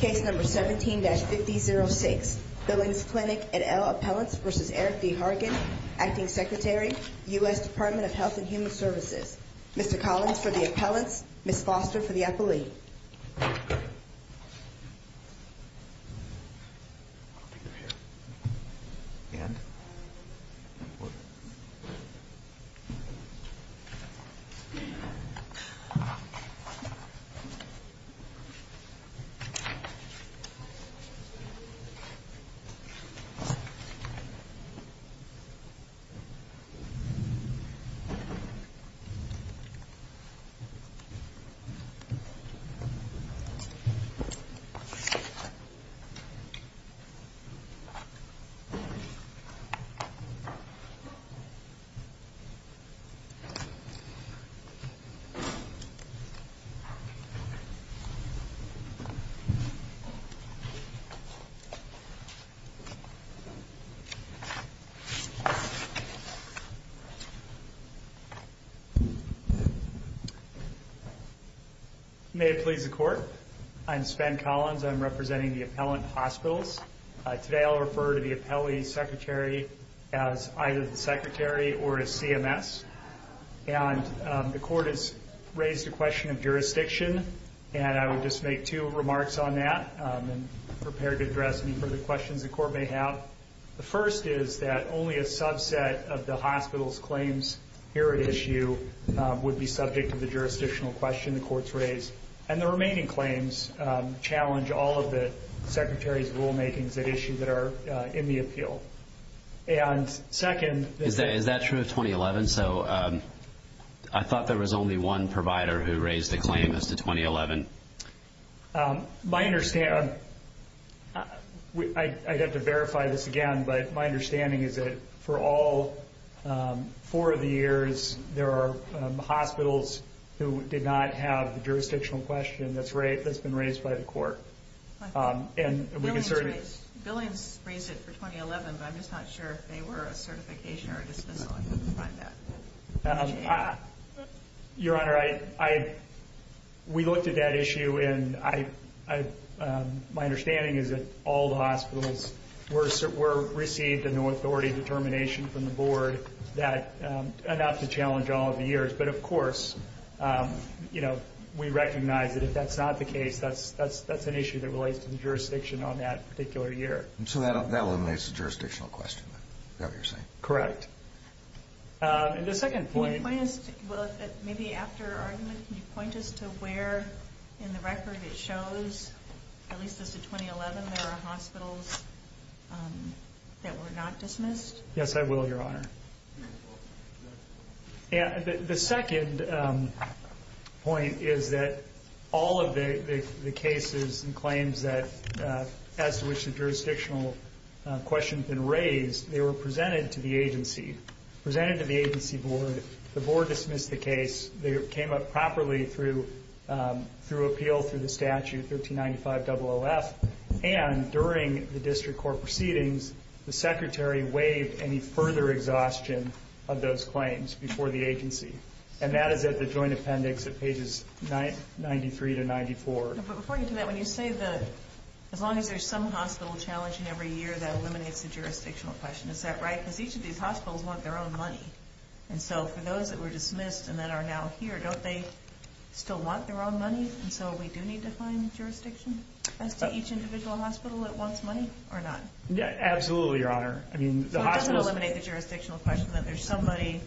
Case number 17-5006 Billings Clinic et al. Appellants v. Eric D. Hargan Acting Secretary, U.S. Department of Health and Human Services Mr. Collins for the appellants, Ms. Foster for the appellee Ms. Foster for the appellant May it please the court, I'm Sven Collins, I'm representing the appellant hospitals. Today I'll refer to the appellee secretary as either the secretary or as CMS. And the court has raised a question of jurisdiction and I would just make two remarks on that and prepare to address any further questions the court may have. The first is that only a subset of the hospital's claims here at issue would be subject to the jurisdictional question the court's raised. And the remaining claims challenge all of the secretary's rulemakings at issue that are in the appeal. Is that true of 2011? I thought there was only one provider who raised a claim as to 2011. I'd have to verify this again, but my understanding is that for all four of the years there are hospitals who did not have the jurisdictional question that's been raised by the court. Billings raised it for 2011, but I'm just not sure if they were a certification or a dismissal. Your Honor, we looked at that issue and my understanding is that all the hospitals received an authority determination from the board enough to challenge all of the years. But of course, you know, we recognize that if that's not the case, that's an issue that relates to the jurisdiction on that particular year. So that eliminates the jurisdictional question, is that what you're saying? Correct. And the second point... Can you point us, maybe after argument, can you point us to where in the record it shows, at least as to 2011, there are hospitals that were not dismissed? Yes, I will, Your Honor. The second point is that all of the cases and claims as to which the jurisdictional question had been raised, they were presented to the agency, presented to the agency board. The board dismissed the case. They came up properly through appeal through the statute, 1395 OOF, and during the district court proceedings, the secretary waived any further exhaustion of those claims before the agency. And that is at the joint appendix at pages 93 to 94. But before you do that, when you say that as long as there's some hospital challenging every year, that eliminates the jurisdictional question. Is that right? Because each of these hospitals want their own money. And so for those that were dismissed and that are now here, don't they still want their own money? And so we do need to find jurisdiction as to each individual hospital that wants money or not? Absolutely, Your Honor. So it doesn't eliminate the jurisdictional question that there's somebody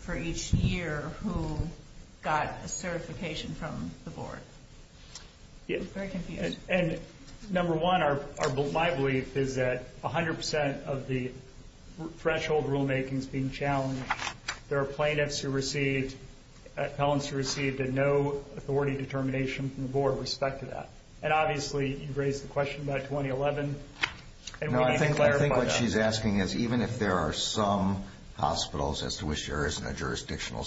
for each year who got a certification from the board. I'm very confused. And number one, my belief is that 100% of the threshold rulemaking is being challenged. There are plaintiffs who received, felons who received, and no authority determination from the board with respect to that. And obviously you raised the question about 2011. No, I think what she's asking is even if there are some hospitals as to which there isn't a jurisdictional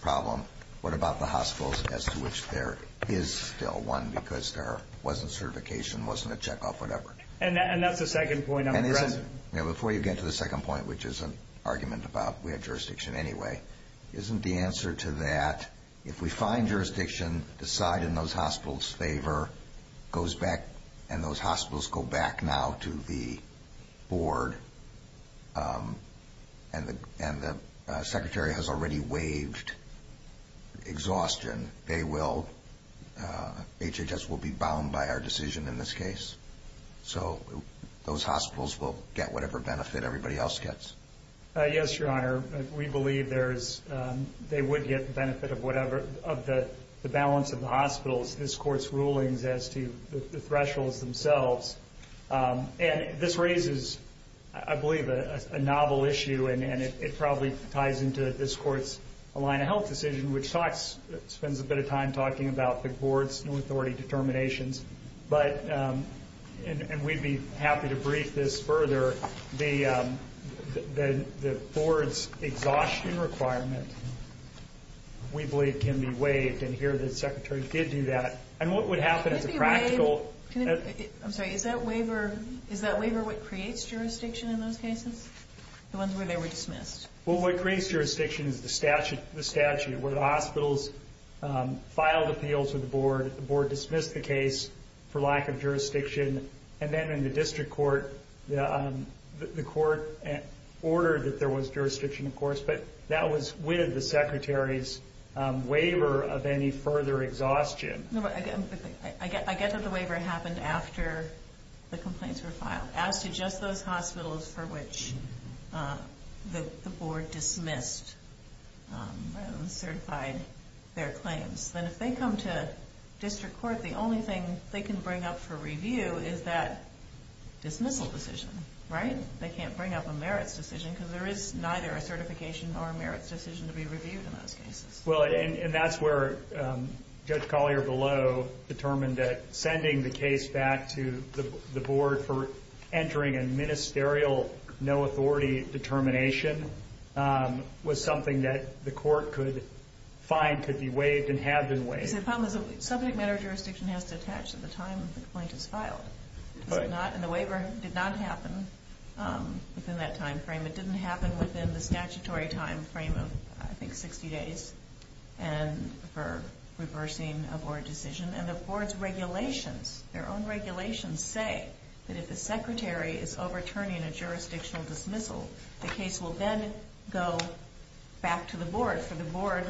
problem, what about the hospitals as to which there is still one because there wasn't certification, wasn't a checkup, whatever? And that's the second point I'm addressing. Before you get to the second point, which is an argument about we have jurisdiction anyway, isn't the answer to that if we find jurisdiction, decide in those hospitals' favor, and those hospitals go back now to the board and the secretary has already waived exhaustion, they will, HHS will be bound by our decision in this case. So those hospitals will get whatever benefit everybody else gets. Yes, Your Honor. We believe they would get the benefit of the balance of the hospitals, this Court's rulings as to the thresholds themselves. And this raises, I believe, a novel issue, and it probably ties into this Court's line of health decision, which spends a bit of time talking about the board's no authority determinations. And we'd be happy to brief this further. The board's exhaustion requirement, we believe, can be waived, and here the secretary did do that. And what would happen as a practical... I'm sorry, is that waiver what creates jurisdiction in those cases, the ones where they were dismissed? Well, what creates jurisdiction is the statute where the hospitals filed appeal to the board, the board dismissed the case for lack of jurisdiction, and then in the district court the court ordered that there was jurisdiction, of course, but that was with the secretary's waiver of any further exhaustion. I get that the waiver happened after the complaints were filed. As to just those hospitals for which the board dismissed and certified their claims, then if they come to district court, the only thing they can bring up for review is that dismissal decision, right? They can't bring up a merits decision, because there is neither a certification nor a merits decision to be reviewed in those cases. Well, and that's where Judge Collier below determined that sending the case back to the board for entering a ministerial no authority determination was something that the court could find could be waived and have been waived. The problem is subject matter jurisdiction has to attach to the time the complaint is filed. And the waiver did not happen within that time frame. It didn't happen within the statutory time frame of, I think, 60 days for reversing a board decision. And the board's regulations, their own regulations, say that if the secretary is overturning a jurisdictional dismissal, the case will then go back to the board for the board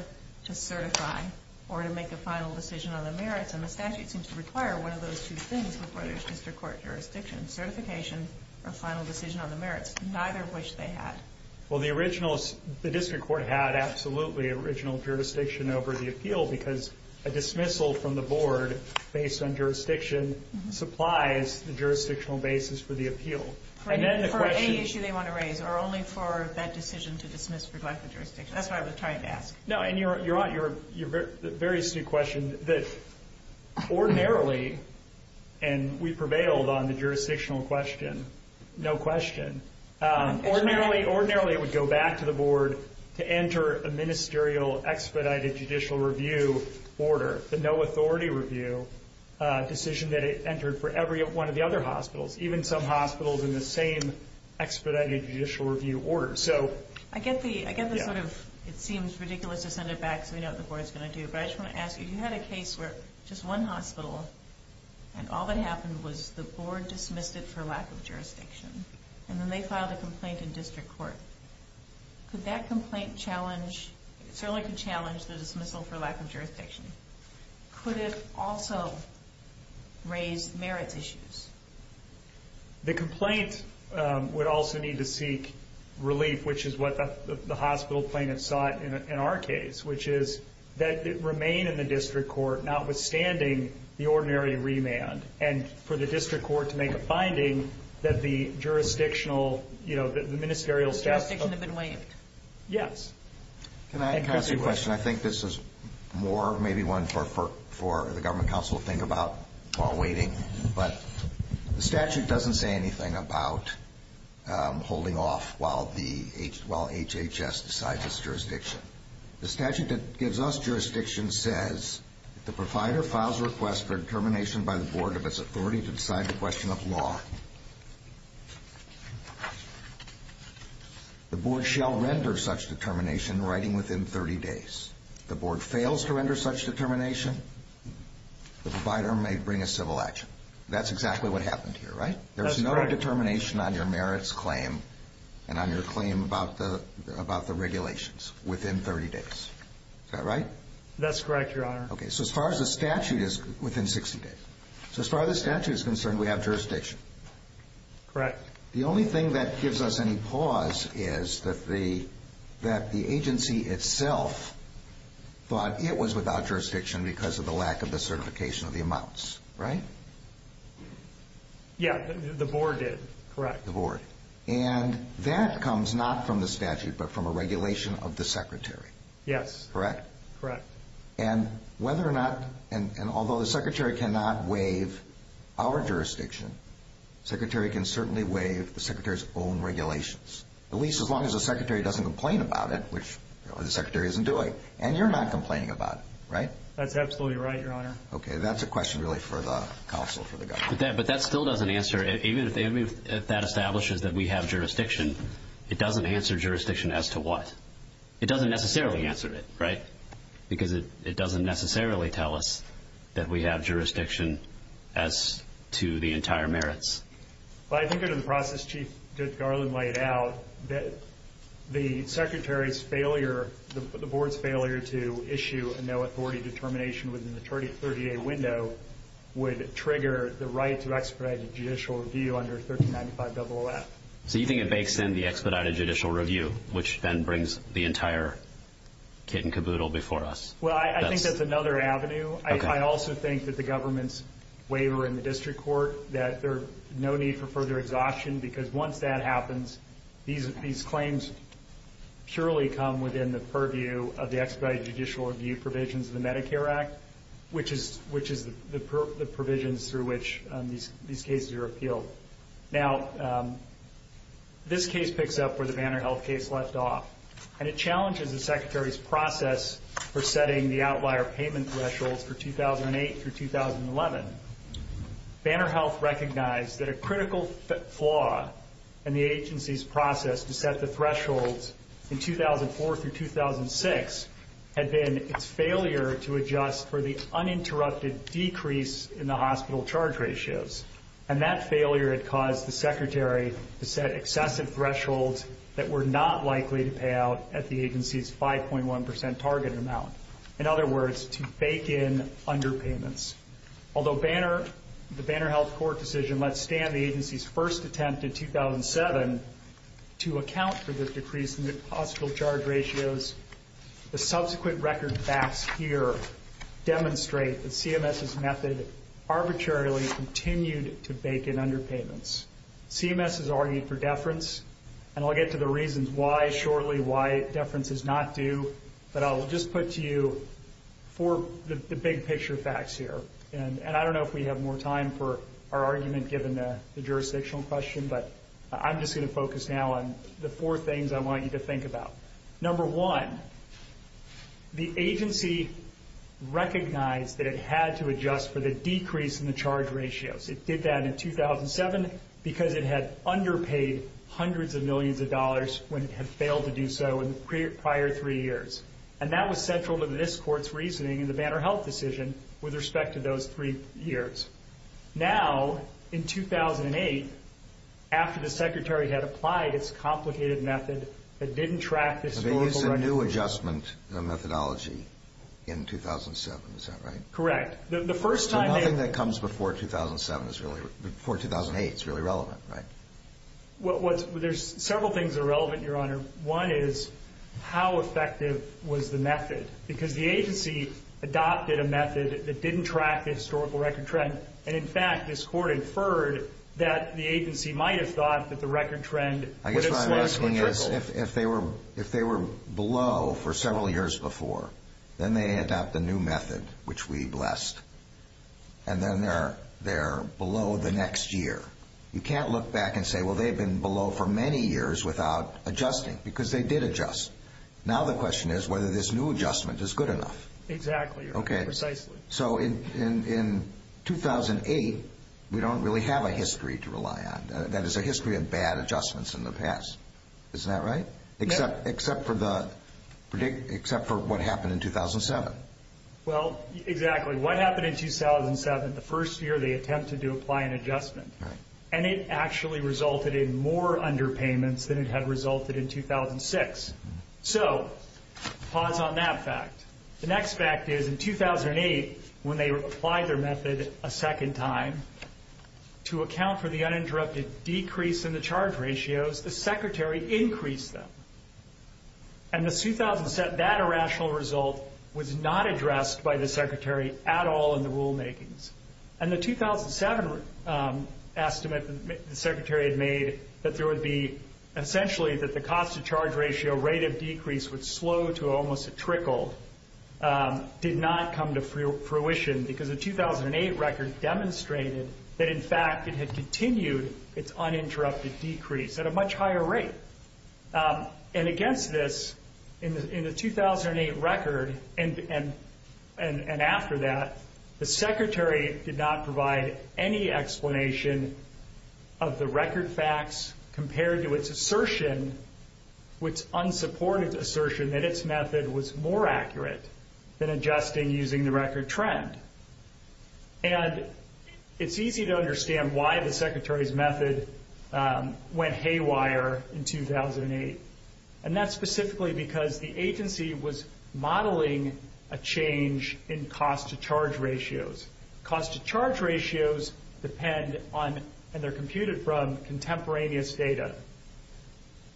to certify or to make a final decision on the merits. And the statute seems to require one of those two things before there's district court jurisdiction, certification or final decision on the merits. Neither of which they had. Well, the district court had absolutely original jurisdiction over the appeal because a dismissal from the board based on jurisdiction supplies the jurisdictional basis for the appeal. For any issue they want to raise or only for that decision to dismiss for lack of jurisdiction. That's what I was trying to ask. No, and you're right. You're very astute question that ordinarily, and we prevailed on the jurisdictional question. No question. Ordinarily, it would go back to the board to enter a ministerial expedited judicial review order. The no authority review decision that it entered for every one of the other hospitals, even some hospitals in the same expedited judicial review order. I get the sort of, it seems ridiculous to send it back so we know what the board is going to do, but I just want to ask you, you had a case where just one hospital and all that happened was the board dismissed it for lack of jurisdiction. And then they filed a complaint in district court. Could that complaint challenge, certainly could challenge the dismissal for lack of jurisdiction. Could it also raise merits issues? The complaint would also need to seek relief, which is what the hospital plaintiffs sought in our case, which is that it remain in the district court, notwithstanding the ordinary remand, and for the district court to make a finding that the jurisdictional, the ministerial staff. The jurisdiction had been waived. Yes. Can I ask you a question? I think this is more maybe one for the government counsel to think about while waiting. But the statute doesn't say anything about holding off while HHS decides its jurisdiction. The statute that gives us jurisdiction says the provider files a request for determination by the board of its authority to decide the question of law. The board shall render such determination writing within 30 days. The board fails to render such determination, the provider may bring a civil action. That's exactly what happened here, right? That's correct. There's no determination on your merits claim and on your claim about the regulations within 30 days. Is that right? That's correct, Your Honor. Okay. So as far as the statute is within 60 days. So as far as the statute is concerned, we have jurisdiction. Correct. The only thing that gives us any pause is that the agency itself thought it was without jurisdiction because of the lack of the certification of the amounts, right? Yeah, the board did. Correct. The board. And that comes not from the statute but from a regulation of the secretary. Yes. Correct? Correct. And whether or not, and although the secretary cannot waive our jurisdiction, the secretary can certainly waive the secretary's own regulations, at least as long as the secretary doesn't complain about it, which the secretary isn't doing. And you're not complaining about it, right? That's absolutely right, Your Honor. Okay. That's a question really for the counsel for the government. But that still doesn't answer, even if that establishes that we have jurisdiction, it doesn't answer jurisdiction as to what. It doesn't necessarily answer it, right? Because it doesn't necessarily tell us that we have jurisdiction as to the entire merits. Well, I think under the process Chief Garland laid out, the secretary's failure, the board's failure to issue a no-authority determination within the 30-day window would trigger the right to expedited judicial review under 1395-00F. So you think it bakes in the expedited judicial review, which then brings the entire kit and caboodle before us? Well, I think that's another avenue. I also think that the government's waiver in the district court, that there's no need for further exhaustion because once that happens, these claims purely come within the purview of the expedited judicial review provisions of the Medicare Act, which is the provisions through which these cases are appealed. Now, this case picks up where the Banner Health case left off, and it challenges the secretary's process for setting the outlier payment thresholds for 2008 through 2011. Banner Health recognized that a critical flaw in the agency's process to set the thresholds in 2004 through 2006 had been its failure to adjust for the uninterrupted decrease in the hospital charge ratios, and that failure had caused the secretary to set excessive thresholds that were not likely to pay out at the agency's 5.1 percent targeted amount. In other words, to bake in underpayments. Although the Banner Health court decision let stand the agency's first attempt in 2007 to account for the decrease in the hospital charge ratios, the subsequent record facts here demonstrate that CMS's method arbitrarily continued to bake in underpayments. CMS has argued for deference, and I'll get to the reasons why shortly, why deference is not due, but I'll just put to you four big-picture facts here. And I don't know if we have more time for our argument given the jurisdictional question, but I'm just going to focus now on the four things I want you to think about. Number one, the agency recognized that it had to adjust for the decrease in the charge ratios. It did that in 2007 because it had underpaid hundreds of millions of dollars when it had failed to do so in the prior three years. And that was central to this court's reasoning in the Banner Health decision with respect to those three years. Now, in 2008, after the secretary had applied its complicated method that didn't track the historical record trend. So they used a new adjustment methodology in 2007, is that right? Correct. So nothing that comes before 2008 is really relevant, right? There's several things that are relevant, Your Honor. One is how effective was the method? Because the agency adopted a method that didn't track the historical record trend. And, in fact, this court inferred that the agency might have thought that the record trend would have slightly trickled. I guess what I'm asking is if they were below for several years before, then they adopt a new method, which we blessed, and then they're below the next year. You can't look back and say, well, they've been below for many years without adjusting, because they did adjust. Now the question is whether this new adjustment is good enough. Exactly, Your Honor, precisely. So in 2008, we don't really have a history to rely on. That is, a history of bad adjustments in the past. Isn't that right? Except for what happened in 2007. Well, exactly. What happened in 2007, the first year they attempted to apply an adjustment, and it actually resulted in more underpayments than it had resulted in 2006. So pause on that fact. The next fact is in 2008, when they applied their method a second time, to account for the uninterrupted decrease in the charge ratios, the Secretary increased them. And in 2007, that irrational result was not addressed by the Secretary at all in the rulemakings. And the 2007 estimate the Secretary had made that there would be, essentially that the cost-to-charge ratio rate of decrease would slow to almost a trickle, did not come to fruition, because the 2008 record demonstrated that, in fact, it had continued its uninterrupted decrease at a much higher rate. And against this, in the 2008 record and after that, the Secretary did not provide any explanation of the record facts compared to its assertion, which unsupported assertion that its method was more accurate than adjusting using the record trend. And it's easy to understand why the Secretary's method went haywire in 2008. And that's specifically because the agency was modeling a change in cost-to-charge ratios. Cost-to-charge ratios depend on, and they're computed from, contemporaneous data.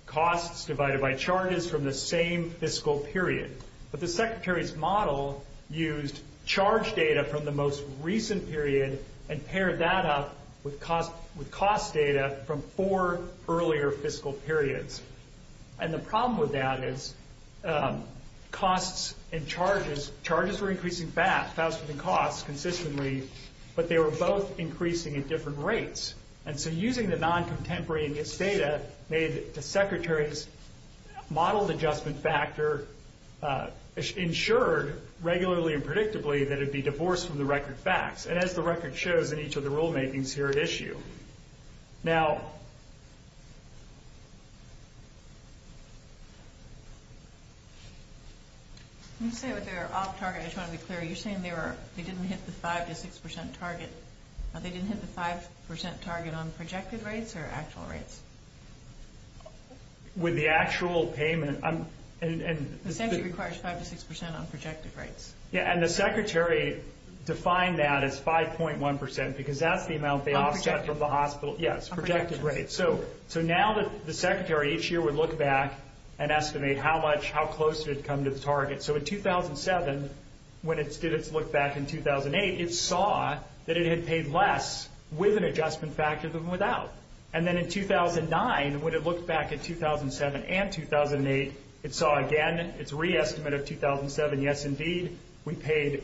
Costs divided by charges from the same fiscal period. But the Secretary's model used charge data from the most recent period and paired that up with cost data from four earlier fiscal periods. And the problem with that is costs and charges, charges were increasing faster than costs consistently, but they were both increasing at different rates. And so using the non-contemporaneous data made the Secretary's modeled adjustment factor ensured regularly and predictably that it would be divorced from the record facts, and as the record shows in each of the rulemakings here at issue. Now... With the actual payment, and... Yeah, and the Secretary defined that as 5.1% because that's the amount they offset from the hospital. Yes, projected rates. So now that the Secretary each year would look back and estimate how much, how close did it come to the target. So in 2007, when it did its look back in 2008, it saw that it had paid less with an adjustment factor than without. And then in 2009, when it looked back in 2007 and 2008, it saw again its re-estimate of 2007. Yes, indeed, we paid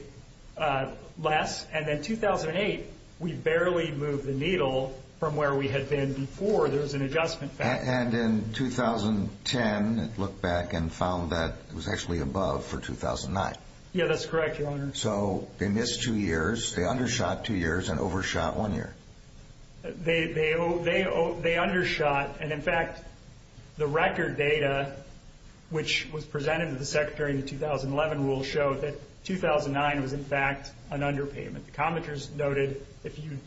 less. And then 2008, we barely moved the needle from where we had been before there was an adjustment factor. And in 2010, it looked back and found that it was actually above for 2009. Yeah, that's correct, Your Honor. So they missed two years, they undershot two years, and overshot one year. They undershot, and in fact, the record data which was presented to the Secretary in the 2011 rule showed that 2009 was in fact an underpayment. The commenters noted if you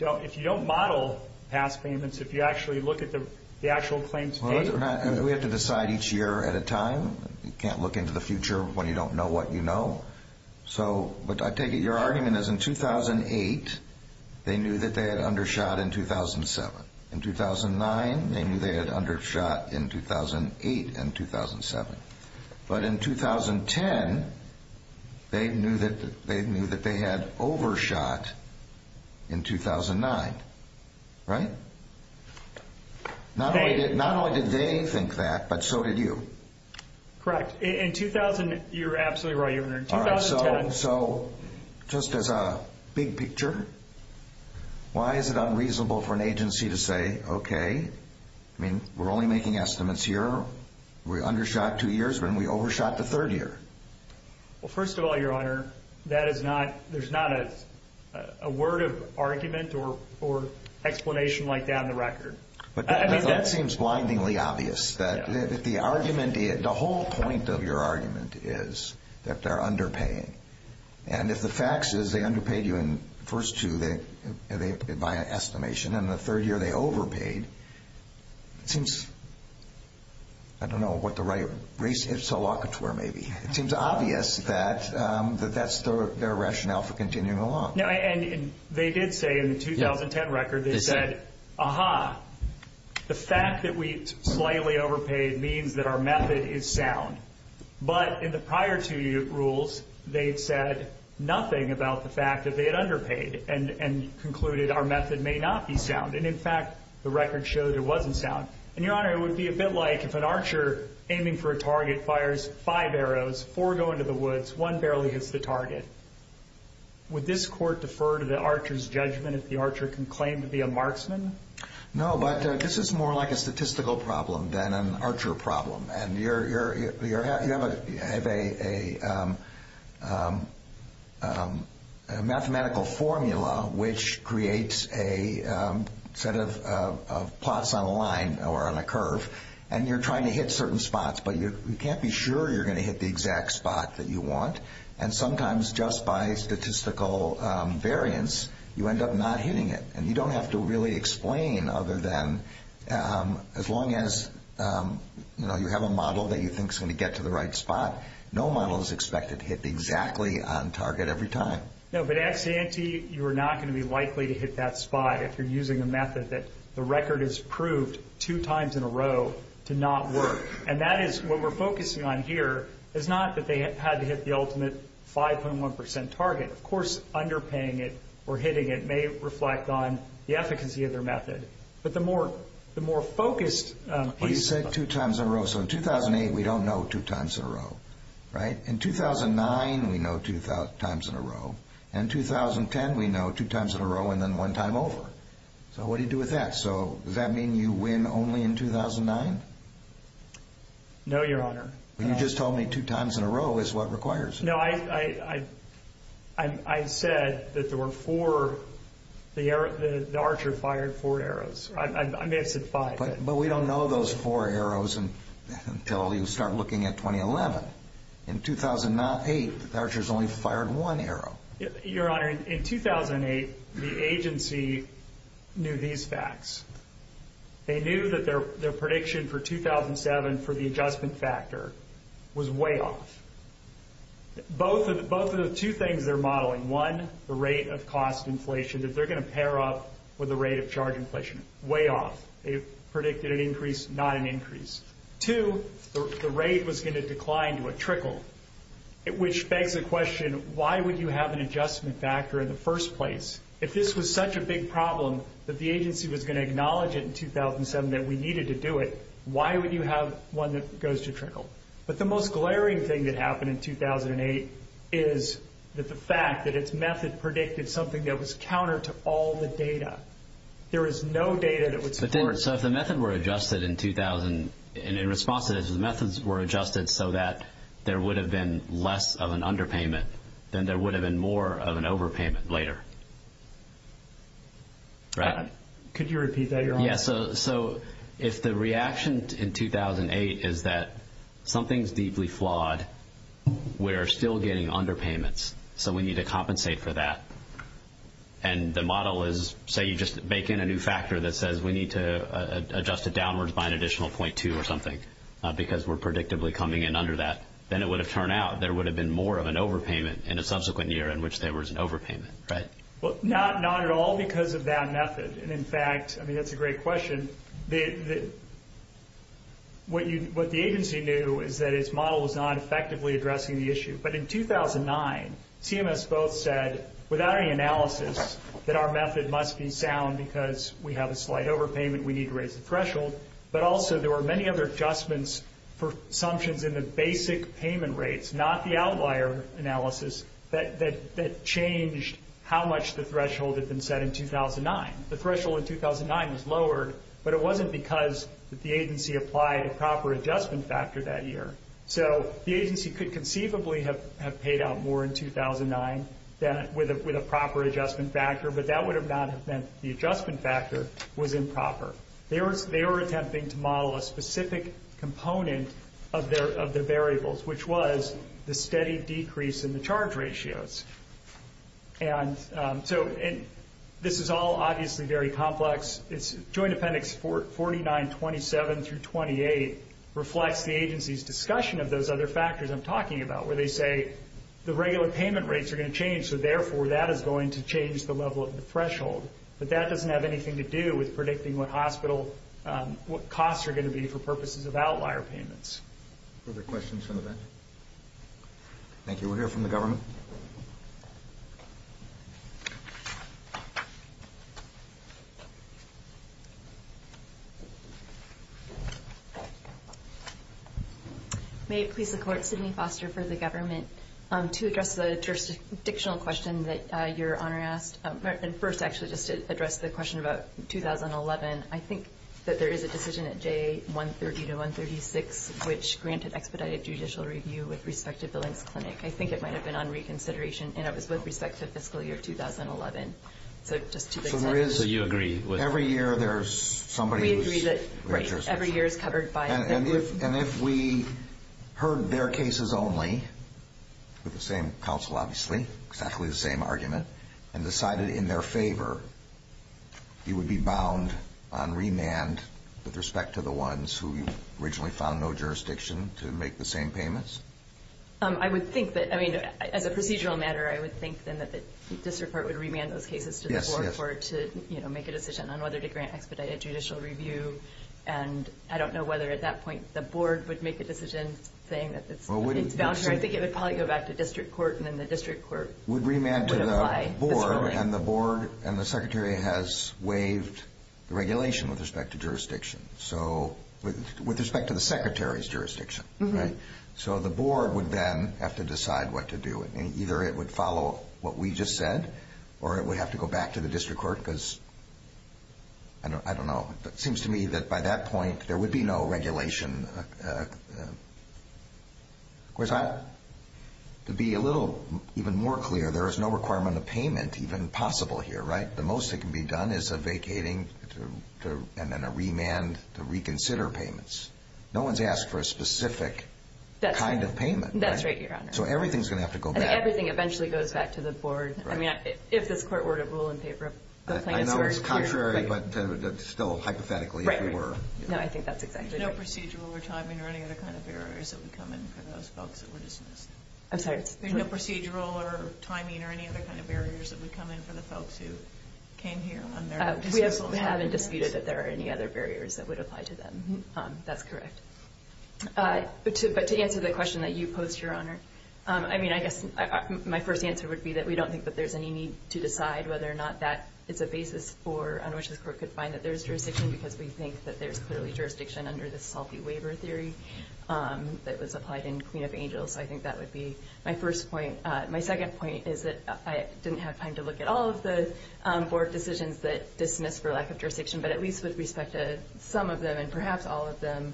don't model past payments, if you actually look at the actual claims date. We have to decide each year at a time. You can't look into the future when you don't know what you know. But I take it your argument is in 2008, they knew that they had undershot in 2007. In 2009, they knew they had undershot in 2008 and 2007. But in 2010, they knew that they had overshot in 2009, right? Not only did they think that, but so did you. Correct. In 2000, you're absolutely right, Your Honor. So just as a big picture, why is it unreasonable for an agency to say, okay, we're only making estimates here, we undershot two years, and we overshot the third year? Well, first of all, Your Honor, there's not a word of argument or explanation like that in the record. That seems blindingly obvious. The whole point of your argument is that they're underpaying. And if the fact is they underpaid you in the first two, by estimation, and in the third year they overpaid, it seems, I don't know what the right race is, it seems obvious that that's their rationale for continuing along. And they did say in the 2010 record, they said, aha, the fact that we slightly overpaid means that our method is sound. But in the prior two rules, they said nothing about the fact that they had underpaid and concluded our method may not be sound. And, in fact, the record showed it wasn't sound. And, Your Honor, it would be a bit like if an archer aiming for a target fires five arrows, four go into the woods, one barely hits the target. Would this court defer to the archer's judgment if the archer can claim to be a marksman? No, but this is more like a statistical problem than an archer problem. And you have a mathematical formula which creates a set of plots on a line or on a curve. And you're trying to hit certain spots, but you can't be sure you're going to hit the exact spot that you want. And sometimes just by statistical variance, you end up not hitting it. And you don't have to really explain other than as long as, you know, you have a model that you think is going to get to the right spot, no model is expected to hit exactly on target every time. No, but at Santee, you are not going to be likely to hit that spot if you're using a method that the record has proved two times in a row to not work. And that is what we're focusing on here is not that they had to hit the ultimate 5.1% target. Of course, underpaying it or hitting it may reflect on the efficacy of their method. But the more focused... You said two times in a row. So in 2008, we don't know two times in a row, right? In 2009, we know two times in a row. In 2010, we know two times in a row and then one time over. So what do you do with that? So does that mean you win only in 2009? No, Your Honor. You just told me two times in a row is what requires it. No, I said that the archer fired four arrows. I may have said five. But we don't know those four arrows until you start looking at 2011. In 2008, the archers only fired one arrow. Your Honor, in 2008, the agency knew these facts. They knew that their prediction for 2007 for the adjustment factor was way off. Both of the two things they're modeling, one, the rate of cost inflation, that they're going to pair up with the rate of charge inflation, way off. They predicted an increase, not an increase. Two, the rate was going to decline to a trickle, which begs the question, why would you have an adjustment factor in the first place? If this was such a big problem that the agency was going to acknowledge it in 2007 that we needed to do it, why would you have one that goes to trickle? But the most glaring thing that happened in 2008 is the fact that its method predicted something that was counter to all the data. There is no data that would support it. So if the method were adjusted in response to this, if the methods were adjusted so that there would have been less of an underpayment, then there would have been more of an overpayment later. Could you repeat that? So if the reaction in 2008 is that something is deeply flawed, we're still getting underpayments, so we need to compensate for that, and the model is, say, you just make in a new factor that says we need to adjust it downwards by an additional .2 or something because we're predictably coming in under that, then it would have turned out there would have been more of an overpayment in a subsequent year in which there was an overpayment, right? Well, not at all because of that method. And, in fact, I mean, that's a great question. What the agency knew is that its model was not effectively addressing the issue. But in 2009, CMS both said, without any analysis, that our method must be sound because we have a slight overpayment, we need to raise the threshold. But also there were many other adjustments for assumptions in the basic payment rates, not the outlier analysis, that changed how much the threshold had been set in 2009. The threshold in 2009 was lowered, but it wasn't because the agency applied a proper adjustment factor that year. So the agency could conceivably have paid out more in 2009 with a proper adjustment factor, but that would not have meant the adjustment factor was improper. They were attempting to model a specific component of the variables, which was the steady decrease in the charge ratios. And this is all obviously very complex. Joint Appendix 4927 through 28 reflects the agency's discussion of those other factors I'm talking about, where they say the regular payment rates are going to change, but that doesn't have anything to do with predicting what costs are going to be for purposes of outlier payments. Further questions from the bench? Thank you. We'll hear from the government. May it please the Court, Sidney Foster for the government. To address the jurisdictional question that Your Honor asked, and first actually just to address the question about 2011, I think that there is a decision at J130 to 136, which granted expedited judicial review with respect to Billings Clinic. I think it might have been on reconsideration, and it was with respect to fiscal year 2011. So just to be clear. So you agree. Every year there's somebody who's... We agree that every year is covered by... And if we heard their cases only, with the same counsel obviously, exactly the same argument, and decided in their favor, you would be bound on remand with respect to the ones who originally found no jurisdiction to make the same payments? I would think that, I mean, as a procedural matter, I would think then that the district court would remand those cases to the board to make a decision on whether to grant expedited judicial review. And I don't know whether at that point the board would make a decision saying that it's voucher. I think it would probably go back to district court, and then the district court would apply. Would remand to the board, and the board and the secretary has waived the regulation with respect to jurisdiction. So with respect to the secretary's jurisdiction, right? So the board would then have to decide what to do. Either it would follow what we just said, or it would have to go back to the district court, because, I don't know, it seems to me that by that point there would be no regulation. Of course, to be a little even more clear, there is no requirement of payment even possible here, right? The most that can be done is a vacating and then a remand to reconsider payments. No one's asked for a specific kind of payment. That's right, Your Honor. So everything's going to have to go back. And everything eventually goes back to the board. I mean, if this court were to rule in favor of the plans that are here. I know it's contrary, but still hypothetically if we were. No, I think that's exactly right. There's no procedural or timing or any other kind of barriers that would come in for those folks that were dismissed? I'm sorry? There's no procedural or timing or any other kind of barriers that would come in for the folks who came here on their dismissal? We haven't disputed that there are any other barriers that would apply to them. That's correct. But to answer the question that you posed, Your Honor, I mean, I guess my first answer would be that we don't think that there's any need to decide whether or not that is a basis on which this court could find that there is jurisdiction, because we think that there's clearly jurisdiction under the salty waiver theory that was applied in Queen of Angels. So I think that would be my first point. My second point is that I didn't have time to look at all of the board decisions that dismissed for lack of jurisdiction, but at least with respect to some of them and perhaps all of them,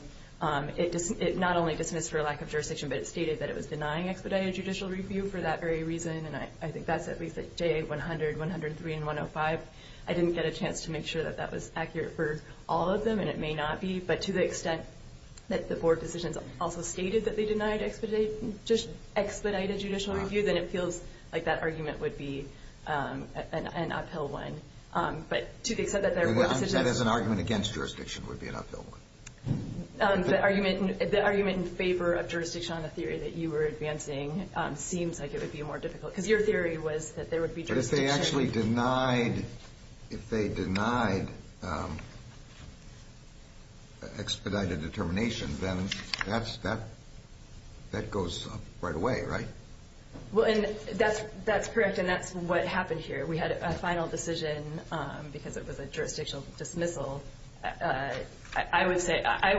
it not only dismissed for lack of jurisdiction, but it stated that it was denying expedited judicial review for that very reason, and I think that's at least at J100, 103, and 105. I didn't get a chance to make sure that that was accurate for all of them, and it may not be, but to the extent that the board decisions also stated that they denied expedited judicial review, then it feels like that argument would be an uphill one. That is an argument against jurisdiction would be an uphill one. The argument in favor of jurisdiction on the theory that you were advancing seems like it would be more difficult, because your theory was that there would be jurisdiction. But if they actually denied expedited determination, then that goes right away, right? Well, that's correct, and that's what happened here. We had a final decision because it was a jurisdictional dismissal. I would say I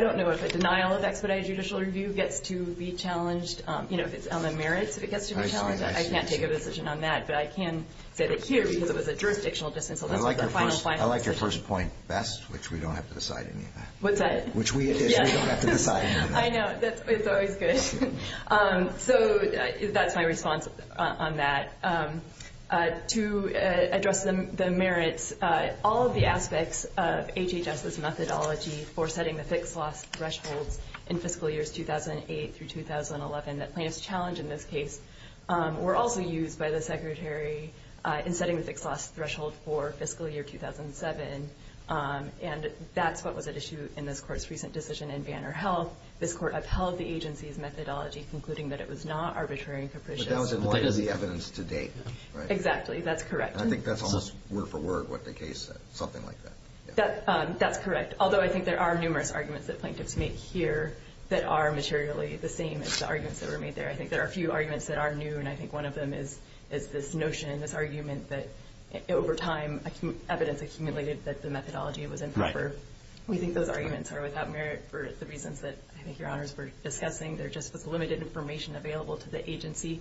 don't know if a denial of expedited judicial review gets to be challenged, you know, if it's on the merits if it gets to be challenged. I can't take a decision on that, but I can say that here, because it was a jurisdictional dismissal, this was our final final decision. I like your first point best, which we don't have to decide any of that. What's that? Which we at issue don't have to decide any of that. I know. It's always good. So that's my response on that. To address the merits, all of the aspects of HHS's methodology for setting the fixed loss thresholds in fiscal years 2008 through 2011 that plaintiffs challenged in this case were also used by the Secretary in setting the fixed loss threshold for fiscal year 2007, and that's what was at issue in this Court's recent decision in Banner Health. This Court upheld the agency's methodology, concluding that it was not arbitrary and capricious. But that was in light of the evidence to date, right? Exactly. That's correct. And I think that's almost word for word what the case said, something like that. That's correct, although I think there are numerous arguments that plaintiffs make here that are materially the same as the arguments that were made there. I think there are a few arguments that are new, and I think one of them is this notion, this argument that over time evidence accumulated that the methodology was improper. We think those arguments are without merit for the reasons that I think Your Honors were discussing. There just was limited information available to the agency,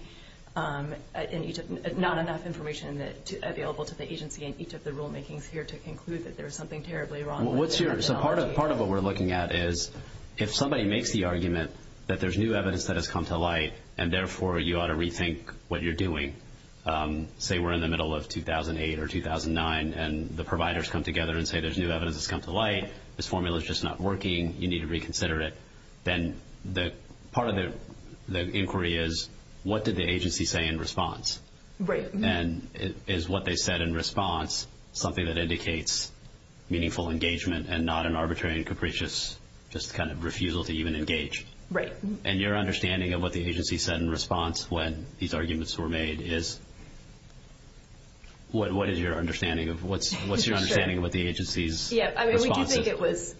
not enough information available to the agency in each of the rulemakings here to conclude that there was something terribly wrong with the methodology. Part of what we're looking at is if somebody makes the argument that there's new evidence that has come to light and therefore you ought to rethink what you're doing, say we're in the middle of 2008 or 2009 and the providers come together and say there's new evidence that's come to light, this formula is just not working, you need to reconsider it, then part of the inquiry is what did the agency say in response? Right. And is what they said in response something that indicates meaningful engagement and not an arbitrary and capricious just kind of refusal to even engage? Right. And your understanding of what the agency said in response when these arguments were made is What is your understanding? What's your understanding of what the agency's response is? We do think it was,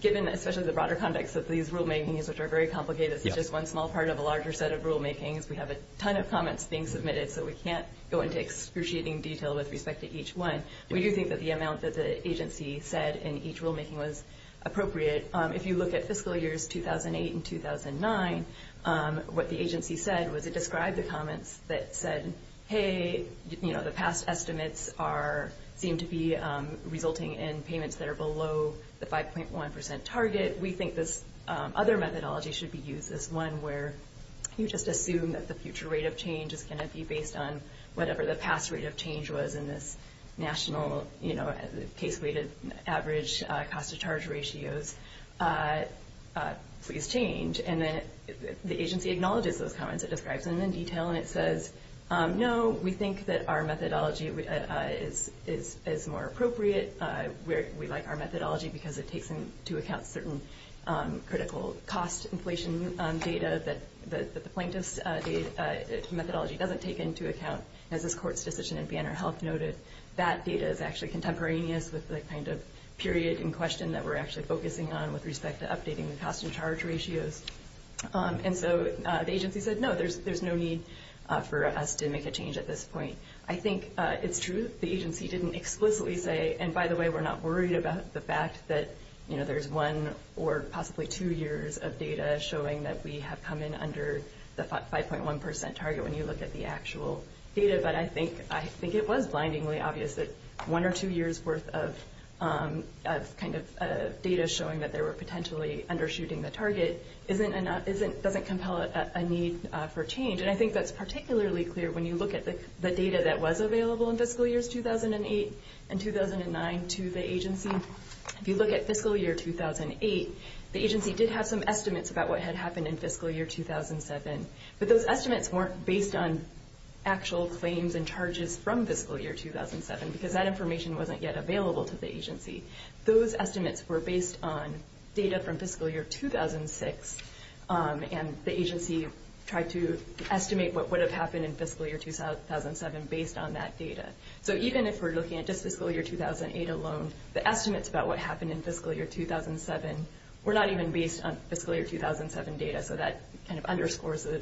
given especially the broader context of these rulemakings, which are very complicated, it's just one small part of a larger set of rulemakings. We have a ton of comments being submitted, so we can't go into excruciating detail with respect to each one. We do think that the amount that the agency said in each rulemaking was appropriate. If you look at fiscal years 2008 and 2009, what the agency said was it described the comments that said, Hey, the past estimates seem to be resulting in payments that are below the 5.1% target. We think this other methodology should be used as one where you just assume that the future rate of change is going to be based on whatever the past rate of change was in this national case-weighted average cost-to-charge ratios. Please change. And the agency acknowledges those comments. It describes them in detail, and it says, No, we think that our methodology is more appropriate. We like our methodology because it takes into account certain critical cost inflation data that the plaintiff's methodology doesn't take into account. As this court's decision in Banner Health noted, that data is actually contemporaneous with the kind of period in question that we're actually focusing on with respect to updating the cost-to-charge ratios. And so the agency said, No, there's no need for us to make a change at this point. I think it's true that the agency didn't explicitly say, And by the way, we're not worried about the fact that there's one or possibly two years of data showing that we have come in under the 5.1% target when you look at the actual data, but I think it was blindingly obvious that one or two years' worth of kind of data showing that they were potentially undershooting the target doesn't compel a need for change. And I think that's particularly clear when you look at the data that was available in fiscal years 2008 and 2009 to the agency. If you look at fiscal year 2008, the agency did have some estimates about what had happened in fiscal year 2007, but those estimates weren't based on actual claims and charges from fiscal year 2007 because that information wasn't yet available to the agency. Those estimates were based on data from fiscal year 2006, and the agency tried to estimate what would have happened in fiscal year 2007 based on that data. So even if we're looking at just fiscal year 2008 alone, the estimates about what happened in fiscal year 2007 were not even based on fiscal year 2007 data, so that kind of underscores the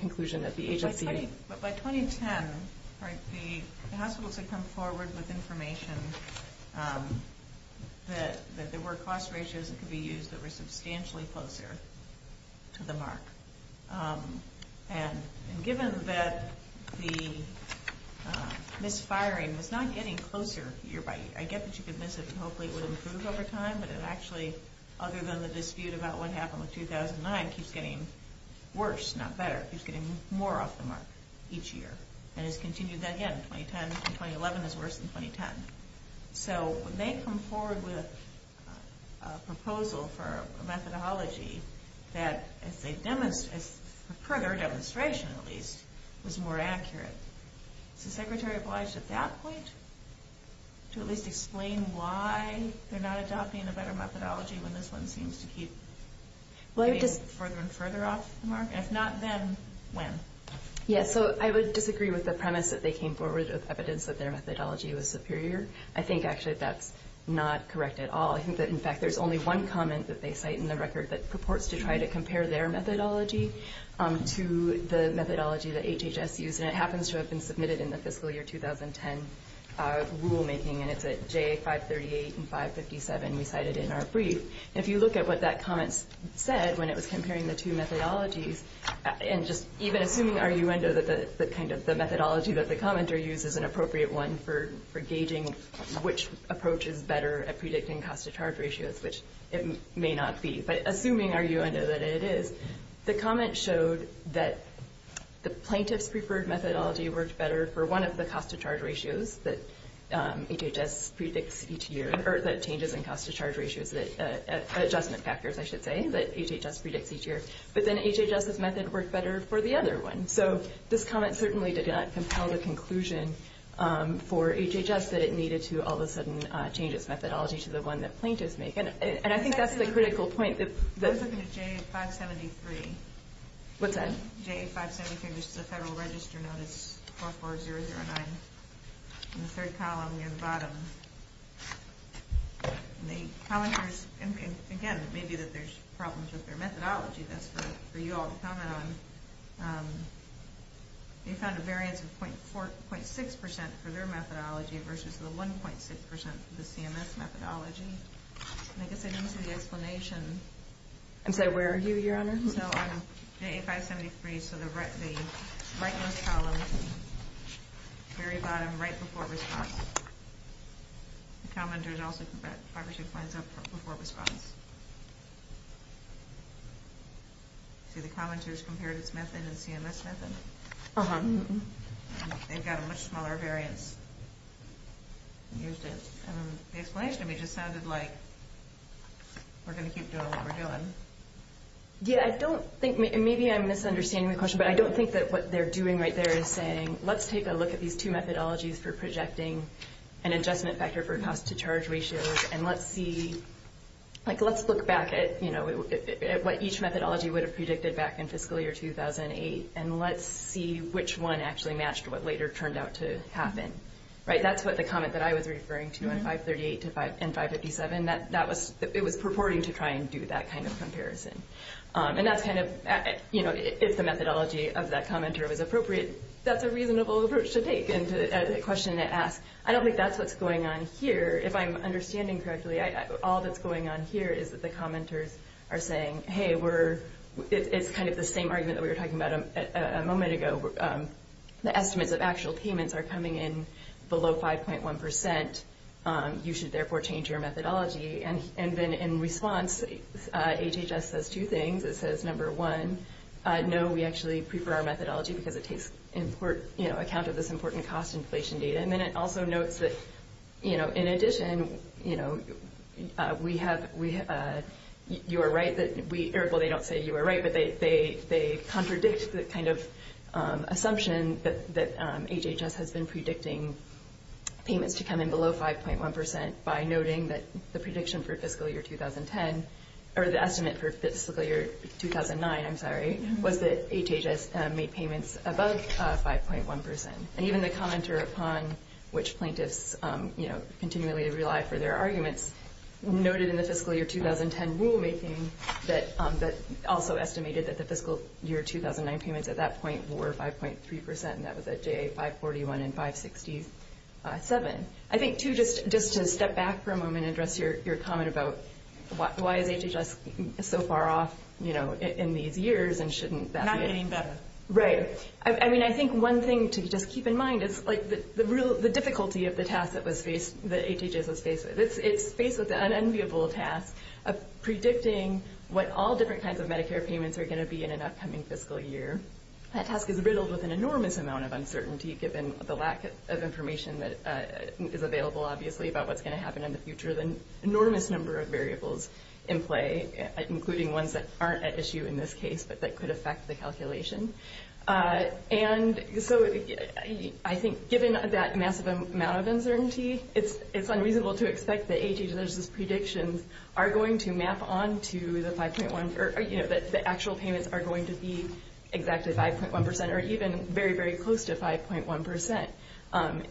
conclusion that the agency... By 2010, the hospitals had come forward with information that there were cost ratios that could be used that were substantially closer to the mark. And given that the misfiring was not getting closer year by year, I get that you could miss it and hopefully it would improve over time, but it actually, other than the dispute about what happened with 2009, keeps getting worse, not better. It keeps getting more off the mark each year and has continued that again. 2010 and 2011 is worse than 2010. So when they come forward with a proposal for a methodology that, for further demonstration at least, was more accurate, is the Secretary obliged at that point to at least explain why they're not adopting a better methodology when this one seems to keep getting further and further off the mark? If not then, when? Yes, so I would disagree with the premise that they came forward with evidence that their methodology was superior. I think actually that's not correct at all. I think that, in fact, there's only one comment that they cite in the record that purports to try to compare their methodology to the methodology that HHS used, and it happens to have been submitted in the fiscal year 2010 rulemaking, and it's at J538 and 557 we cited in our brief. If you look at what that comment said when it was comparing the two methodologies, and just even assuming the argument that the methodology that the commenter used is an appropriate one for gauging which approach is better at predicting cost-to-charge ratios, which it may not be, but assuming our U.N. know that it is, the comment showed that the plaintiff's preferred methodology worked better for one of the cost-to-charge ratios that HHS predicts each year, or that changes in cost-to-charge ratios, adjustment factors, I should say, that HHS predicts each year, but then HHS's method worked better for the other one. So this comment certainly did not compel the conclusion for HHS that it needed to all of a sudden change its methodology to the one that plaintiffs make. And I think that's the critical point. I was looking at J573. What's that? J573, which is the Federal Register Notice 44009 in the third column near the bottom. And the commenters, again, it may be that there's problems with their methodology. That's for you all to comment on. They found a variance of 0.6% for their methodology versus the 1.6% for the CMS methodology. And I guess I didn't see the explanation. I'm sorry, where are you, Your Honor? So on J573, so the rightmost column, very bottom, right before response. The commenters also put 5 or 6 lines up before response. See, the commenters compared its method to the CMS method. They've got a much smaller variance. The explanation to me just sounded like we're going to keep doing what we're doing. Yeah, I don't think, maybe I'm misunderstanding the question, but I don't think that what they're doing right there is saying, let's take a look at these two methodologies for projecting an adjustment factor for cost-to-charge ratios and let's see, like, let's look back at, you know, at what each methodology would have predicted back in fiscal year 2008 and let's see which one actually matched what later turned out to happen. Right? That's what the comment that I was referring to on 538 and 557, that it was purporting to try and do that kind of comparison. And that's kind of, you know, if the methodology of that commenter was appropriate, that's a reasonable approach to take and a question to ask. I don't think that's what's going on here. If I'm understanding correctly, all that's going on here is that the commenters are saying, hey, it's kind of the same argument that we were talking about a moment ago. The estimates of actual payments are coming in below 5.1%. You should, therefore, change your methodology. And then in response, HHS says two things. It says, number one, no, we actually prefer our methodology because it takes account of this important cost inflation data. And then it also notes that, you know, in addition, you know, we have you are right that we, well, they don't say you are right, but they contradict the kind of assumption that HHS has been predicting payments to come in below 5.1% by noting that the prediction for fiscal year 2010, or the estimate for fiscal year 2009, I'm sorry, was that HHS made payments above 5.1%. And even the commenter upon which plaintiffs, you know, continually rely for their arguments, noted in the fiscal year 2010 rulemaking that also estimated that the fiscal year 2009 payments at that point were 5.3%, and that was at JA 541 and 567. I think, too, just to step back for a moment and address your comment about why is HHS so far off, you know, in these years and shouldn't that be it? Not getting better. Right. I mean, I think one thing to just keep in mind is, like, the difficulty of the task that HHS was faced with. It's faced with an unenviable task of predicting what all different kinds of Medicare payments are going to be in an upcoming fiscal year. That task is riddled with an enormous amount of uncertainty, given the lack of information that is available, obviously, about what's going to happen in the future, an enormous number of variables in play, including ones that aren't at issue in this case but that could affect the calculation. And so I think given that massive amount of uncertainty, it's unreasonable to expect that HHS's predictions are going to map on to the 5.1% or, you know, that the actual payments are going to be exactly 5.1% or even very, very close to 5.1%.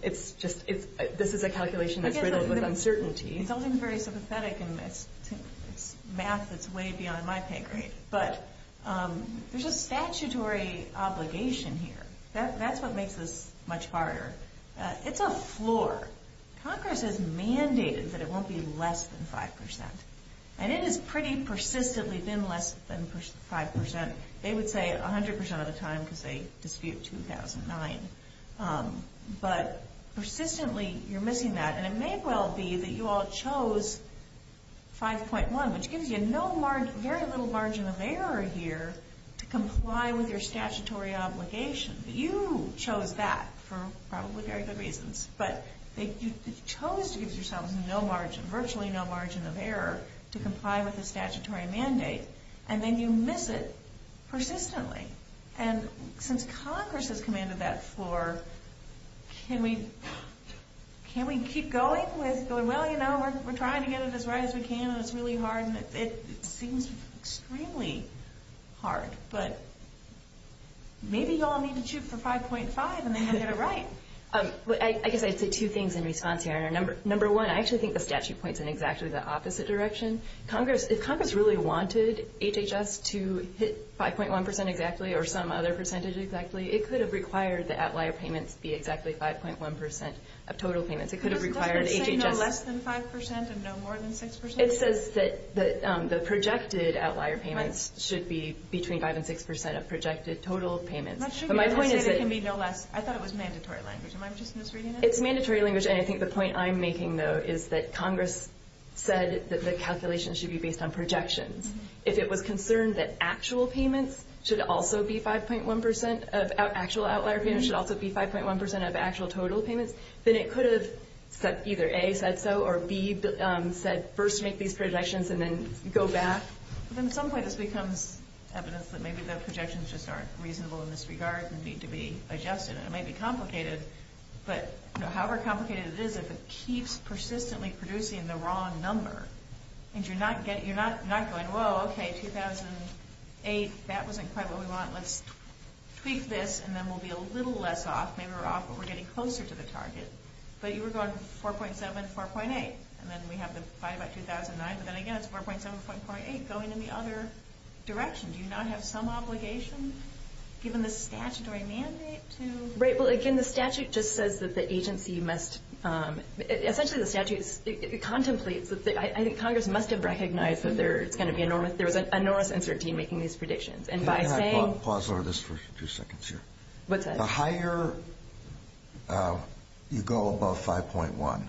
It's just this is a calculation that's riddled with uncertainty. It's something very sympathetic and it's math that's way beyond my pay grade. But there's a statutory obligation here. That's what makes this much harder. It's a floor. Congress has mandated that it won't be less than 5%. And it has pretty persistently been less than 5%. They would say 100% of the time because they dispute 2009. But persistently you're missing that. And it may well be that you all chose 5.1, which gives you very little margin of error here to comply with your statutory obligation. But you chose that for probably very good reasons. But you chose to give yourselves virtually no margin of error to comply with the statutory mandate. And then you miss it persistently. And since Congress has commanded that floor, can we keep going with going, well, you know, we're trying to get it as right as we can and it's really hard. And it seems extremely hard. But maybe you all need to shoot for 5.5 and then you'll get it right. I guess I'd say two things in response here. Number one, I actually think the statute points in exactly the opposite direction. If Congress really wanted HHS to hit 5.1% exactly or some other percentage exactly, it could have required that outlier payments be exactly 5.1% of total payments. It could have required HHS. It doesn't say no less than 5% and no more than 6%? It says that the projected outlier payments should be between 5% and 6% of projected total payments. I thought it was mandatory language. Am I just misreading it? It's mandatory language. And I think the point I'm making, though, is that Congress said that the calculations should be based on projections. If it was concerned that actual payments should also be 5.1% of actual outlier payments, should also be 5.1% of actual total payments, then it could have said either A, said so, or B, said first make these projections and then go back. But then at some point this becomes evidence that maybe the projections just aren't reasonable in this regard and need to be adjusted. And it may be complicated, but however complicated it is, if it keeps persistently producing the wrong number and you're not going, whoa, okay, 2008, that wasn't quite what we want. Let's tweak this and then we'll be a little less off. Maybe we're off, but we're getting closer to the target. But you were going 4.7, 4.8, and then we have the fight about 2009, but then again it's 4.7, 4.8 going in the other direction. Do you not have some obligation given the statutory mandate to? Right. Well, again, the statute just says that the agency must, essentially the statute contemplates, I think Congress must have recognized that there was an enormous uncertainty in making these predictions. Can I pause over this for two seconds here? What's that? The higher you go above 5.1,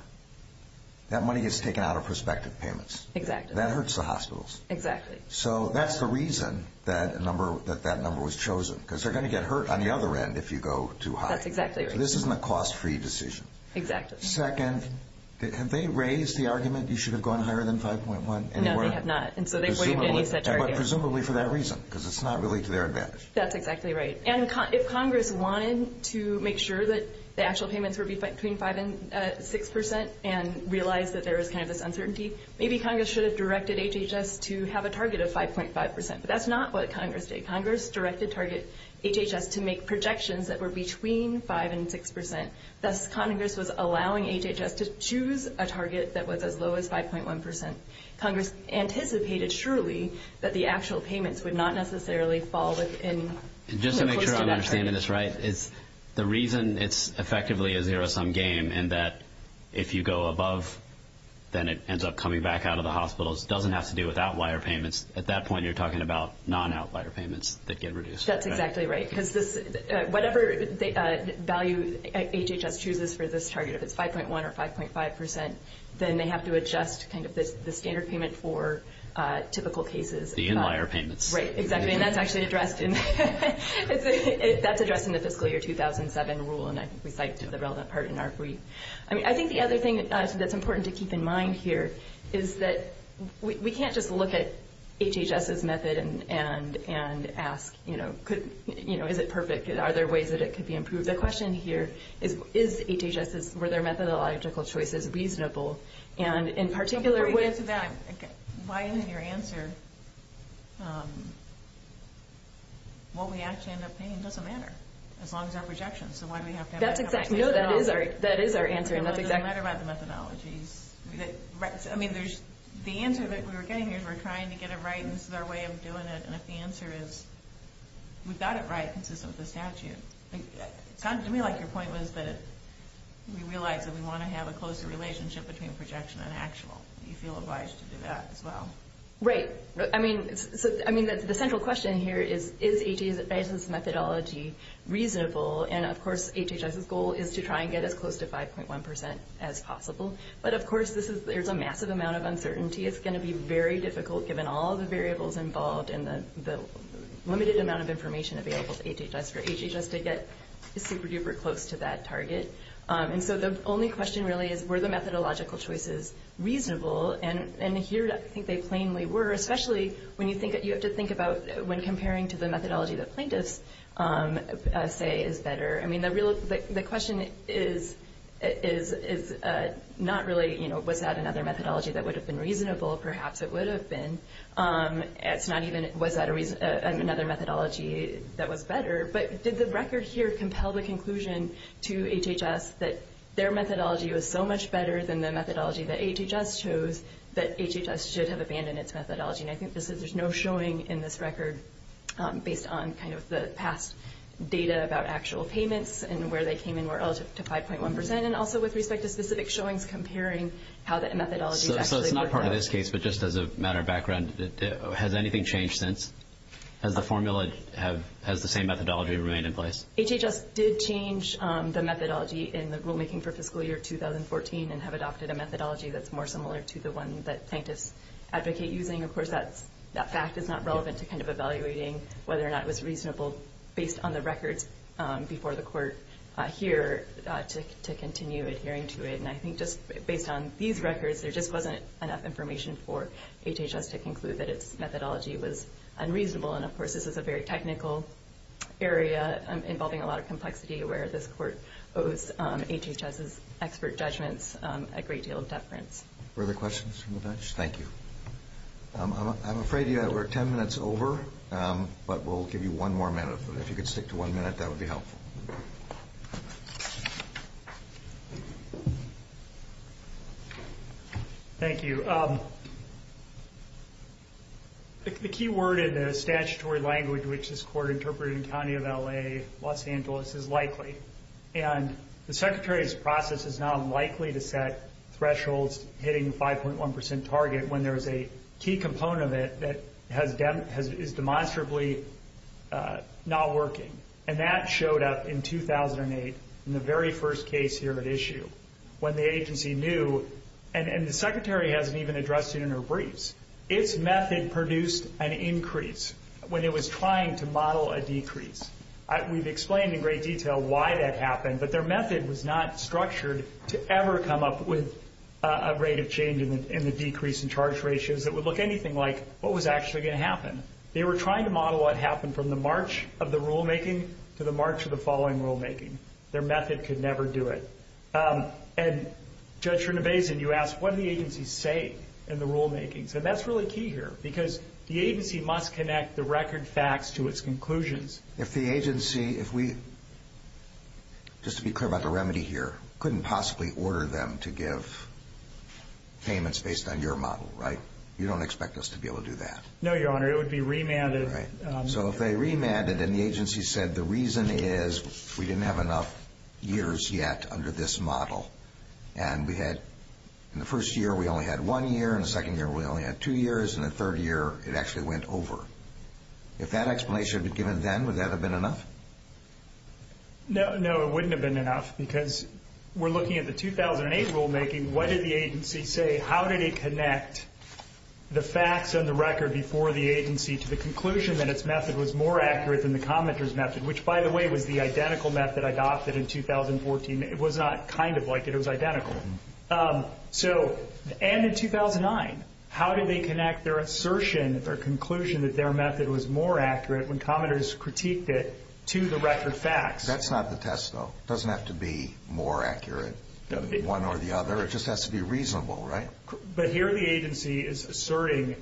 that money gets taken out of prospective payments. Exactly. That hurts the hospitals. Exactly. So that's the reason that that number was chosen, because they're going to get hurt on the other end if you go too high. That's exactly right. So this isn't a cost-free decision. Exactly. Second, have they raised the argument you should have gone higher than 5.1? No, they have not, and so they wouldn't have raised that target. Presumably for that reason, because it's not really to their advantage. That's exactly right. And if Congress wanted to make sure that the actual payments were between 5% and 6% and realized that there was kind of this uncertainty, maybe Congress should have directed HHS to have a target of 5.5%, but that's not what Congress did. Congress directed target HHS to make projections that were between 5% and 6%. Thus, Congress was allowing HHS to choose a target that was as low as 5.1%. Congress anticipated surely that the actual payments would not necessarily fall within the course of that target. Just to make sure I'm understanding this right, the reason it's effectively a zero-sum game and that if you go above, then it ends up coming back out of the hospitals doesn't have to do with outlier payments. At that point, you're talking about non-outlier payments that get reduced. That's exactly right, because whatever value HHS chooses for this target, if it's 5.1% or 5.5%, then they have to adjust kind of the standard payment for typical cases. The inlier payments. Right, exactly, and that's actually addressed in the fiscal year 2007 rule, and I think we cite the relevant part in our brief. I think the other thing that's important to keep in mind here is that we can't just look at HHS's method and ask, is it perfect, are there ways that it could be improved? The question here is, were their methodological choices reasonable? Before we get to that, why isn't your answer, what we actually end up paying doesn't matter, as long as our projections, so why do we have to have that conversation at all? No, that is our answer, and that's exactly right. It doesn't matter about the methodologies. The answer that we were getting here is we're trying to get it right, and this is our way of doing it, and if the answer is we've got it right consistent with the statute. It sounded to me like your point was that we realize that we want to have a closer relationship between projection and actual. Do you feel advised to do that as well? Right. I mean, the central question here is, is HHS's methodology reasonable, and of course HHS's goal is to try and get as close to 5.1% as possible, but of course there's a massive amount of uncertainty. It's going to be very difficult given all the variables involved and the limited amount of information available to HHS for HHS to get super-duper close to that target, and so the only question really is were the methodological choices reasonable, and here I think they plainly were, especially when you have to think about when comparing to the methodology that plaintiffs say is better. I mean, the question is not really was that another methodology that would have been reasonable. Perhaps it would have been. It's not even was that another methodology that was better, but did the record here compel the conclusion to HHS that their methodology was so much better than the methodology that HHS chose that HHS should have abandoned its methodology, and I think there's no showing in this record based on kind of the past data about actual payments and where they came in relative to 5.1%, and also with respect to specific showings comparing how that methodology is actually working out. Not by this case, but just as a matter of background, has anything changed since? Has the formula, has the same methodology remained in place? HHS did change the methodology in the rulemaking for fiscal year 2014 and have adopted a methodology that's more similar to the one that plaintiffs advocate using. Of course, that fact is not relevant to kind of evaluating whether or not it was reasonable based on the records before the court here to continue adhering to it, and I think just based on these records, there just wasn't enough information for HHS to conclude that its methodology was unreasonable, and of course, this is a very technical area involving a lot of complexity where this court owes HHS's expert judgments a great deal of deference. Further questions from the bench? Thank you. I'm afraid we're 10 minutes over, but we'll give you one more minute. If you could stick to one minute, that would be helpful. Thank you. The key word in the statutory language which this court interpreted in the county of L.A., Los Angeles, is likely, and the Secretary's process is now likely to set thresholds hitting the 5.1% target when there is a key component of it that is demonstrably not working, and that showed up in 2008 in the very first case here at issue when the agency knew, and the Secretary hasn't even addressed it in her briefs, its method produced an increase when it was trying to model a decrease. We've explained in great detail why that happened, but their method was not structured to ever come up with a rate of change in the decrease in charge ratios They were trying to model what happened from the march of the rulemaking to the march of the following rulemaking. Their method could never do it. And Judge Rinabesan, you asked what do the agencies say in the rulemakings, and that's really key here because the agency must connect the record facts to its conclusions. If the agency, if we, just to be clear about the remedy here, couldn't possibly order them to give payments based on your model, right? You don't expect us to be able to do that. No, Your Honor, it would be remanded. So if they remanded and the agency said the reason is we didn't have enough years yet under this model, and we had in the first year we only had one year, in the second year we only had two years, and the third year it actually went over. If that explanation had been given then, would that have been enough? No, it wouldn't have been enough because we're looking at the 2008 rulemaking. What did the agency say? How did it connect the facts and the record before the agency to the conclusion that its method was more accurate than the commenter's method, which, by the way, was the identical method adopted in 2014. It was not kind of like it. It was identical. So, and in 2009, how did they connect their assertion, their conclusion, that their method was more accurate when commenters critiqued it to the record facts? That's not the test, though. It doesn't have to be more accurate than one or the other. It just has to be reasonable, right? But here the agency is asserting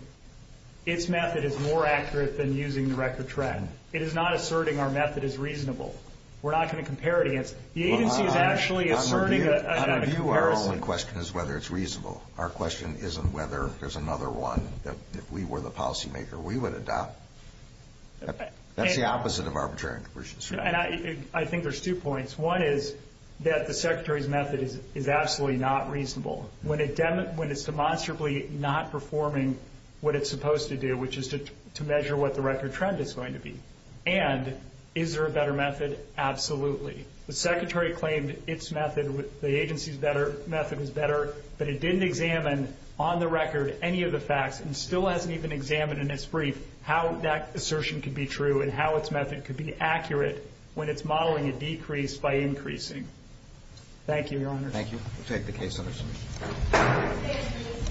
its method is more accurate than using the record track. It is not asserting our method is reasonable. We're not going to compare it against. The agency is actually asserting a comparison. Well, on our view, our only question is whether it's reasonable. Our question isn't whether there's another one that, if we were the policymaker, we would adopt. That's the opposite of arbitrary. I think there's two points. One is that the Secretary's method is absolutely not reasonable. When it's demonstrably not performing what it's supposed to do, which is to measure what the record trend is going to be. And is there a better method? Absolutely. The Secretary claimed its method, the agency's method, is better, but it didn't examine on the record any of the facts and still hasn't even examined in its brief how that assertion could be true and how its method could be accurate when it's modeling a decrease by increasing. Thank you, Your Honor. Thank you. We'll take the case under review.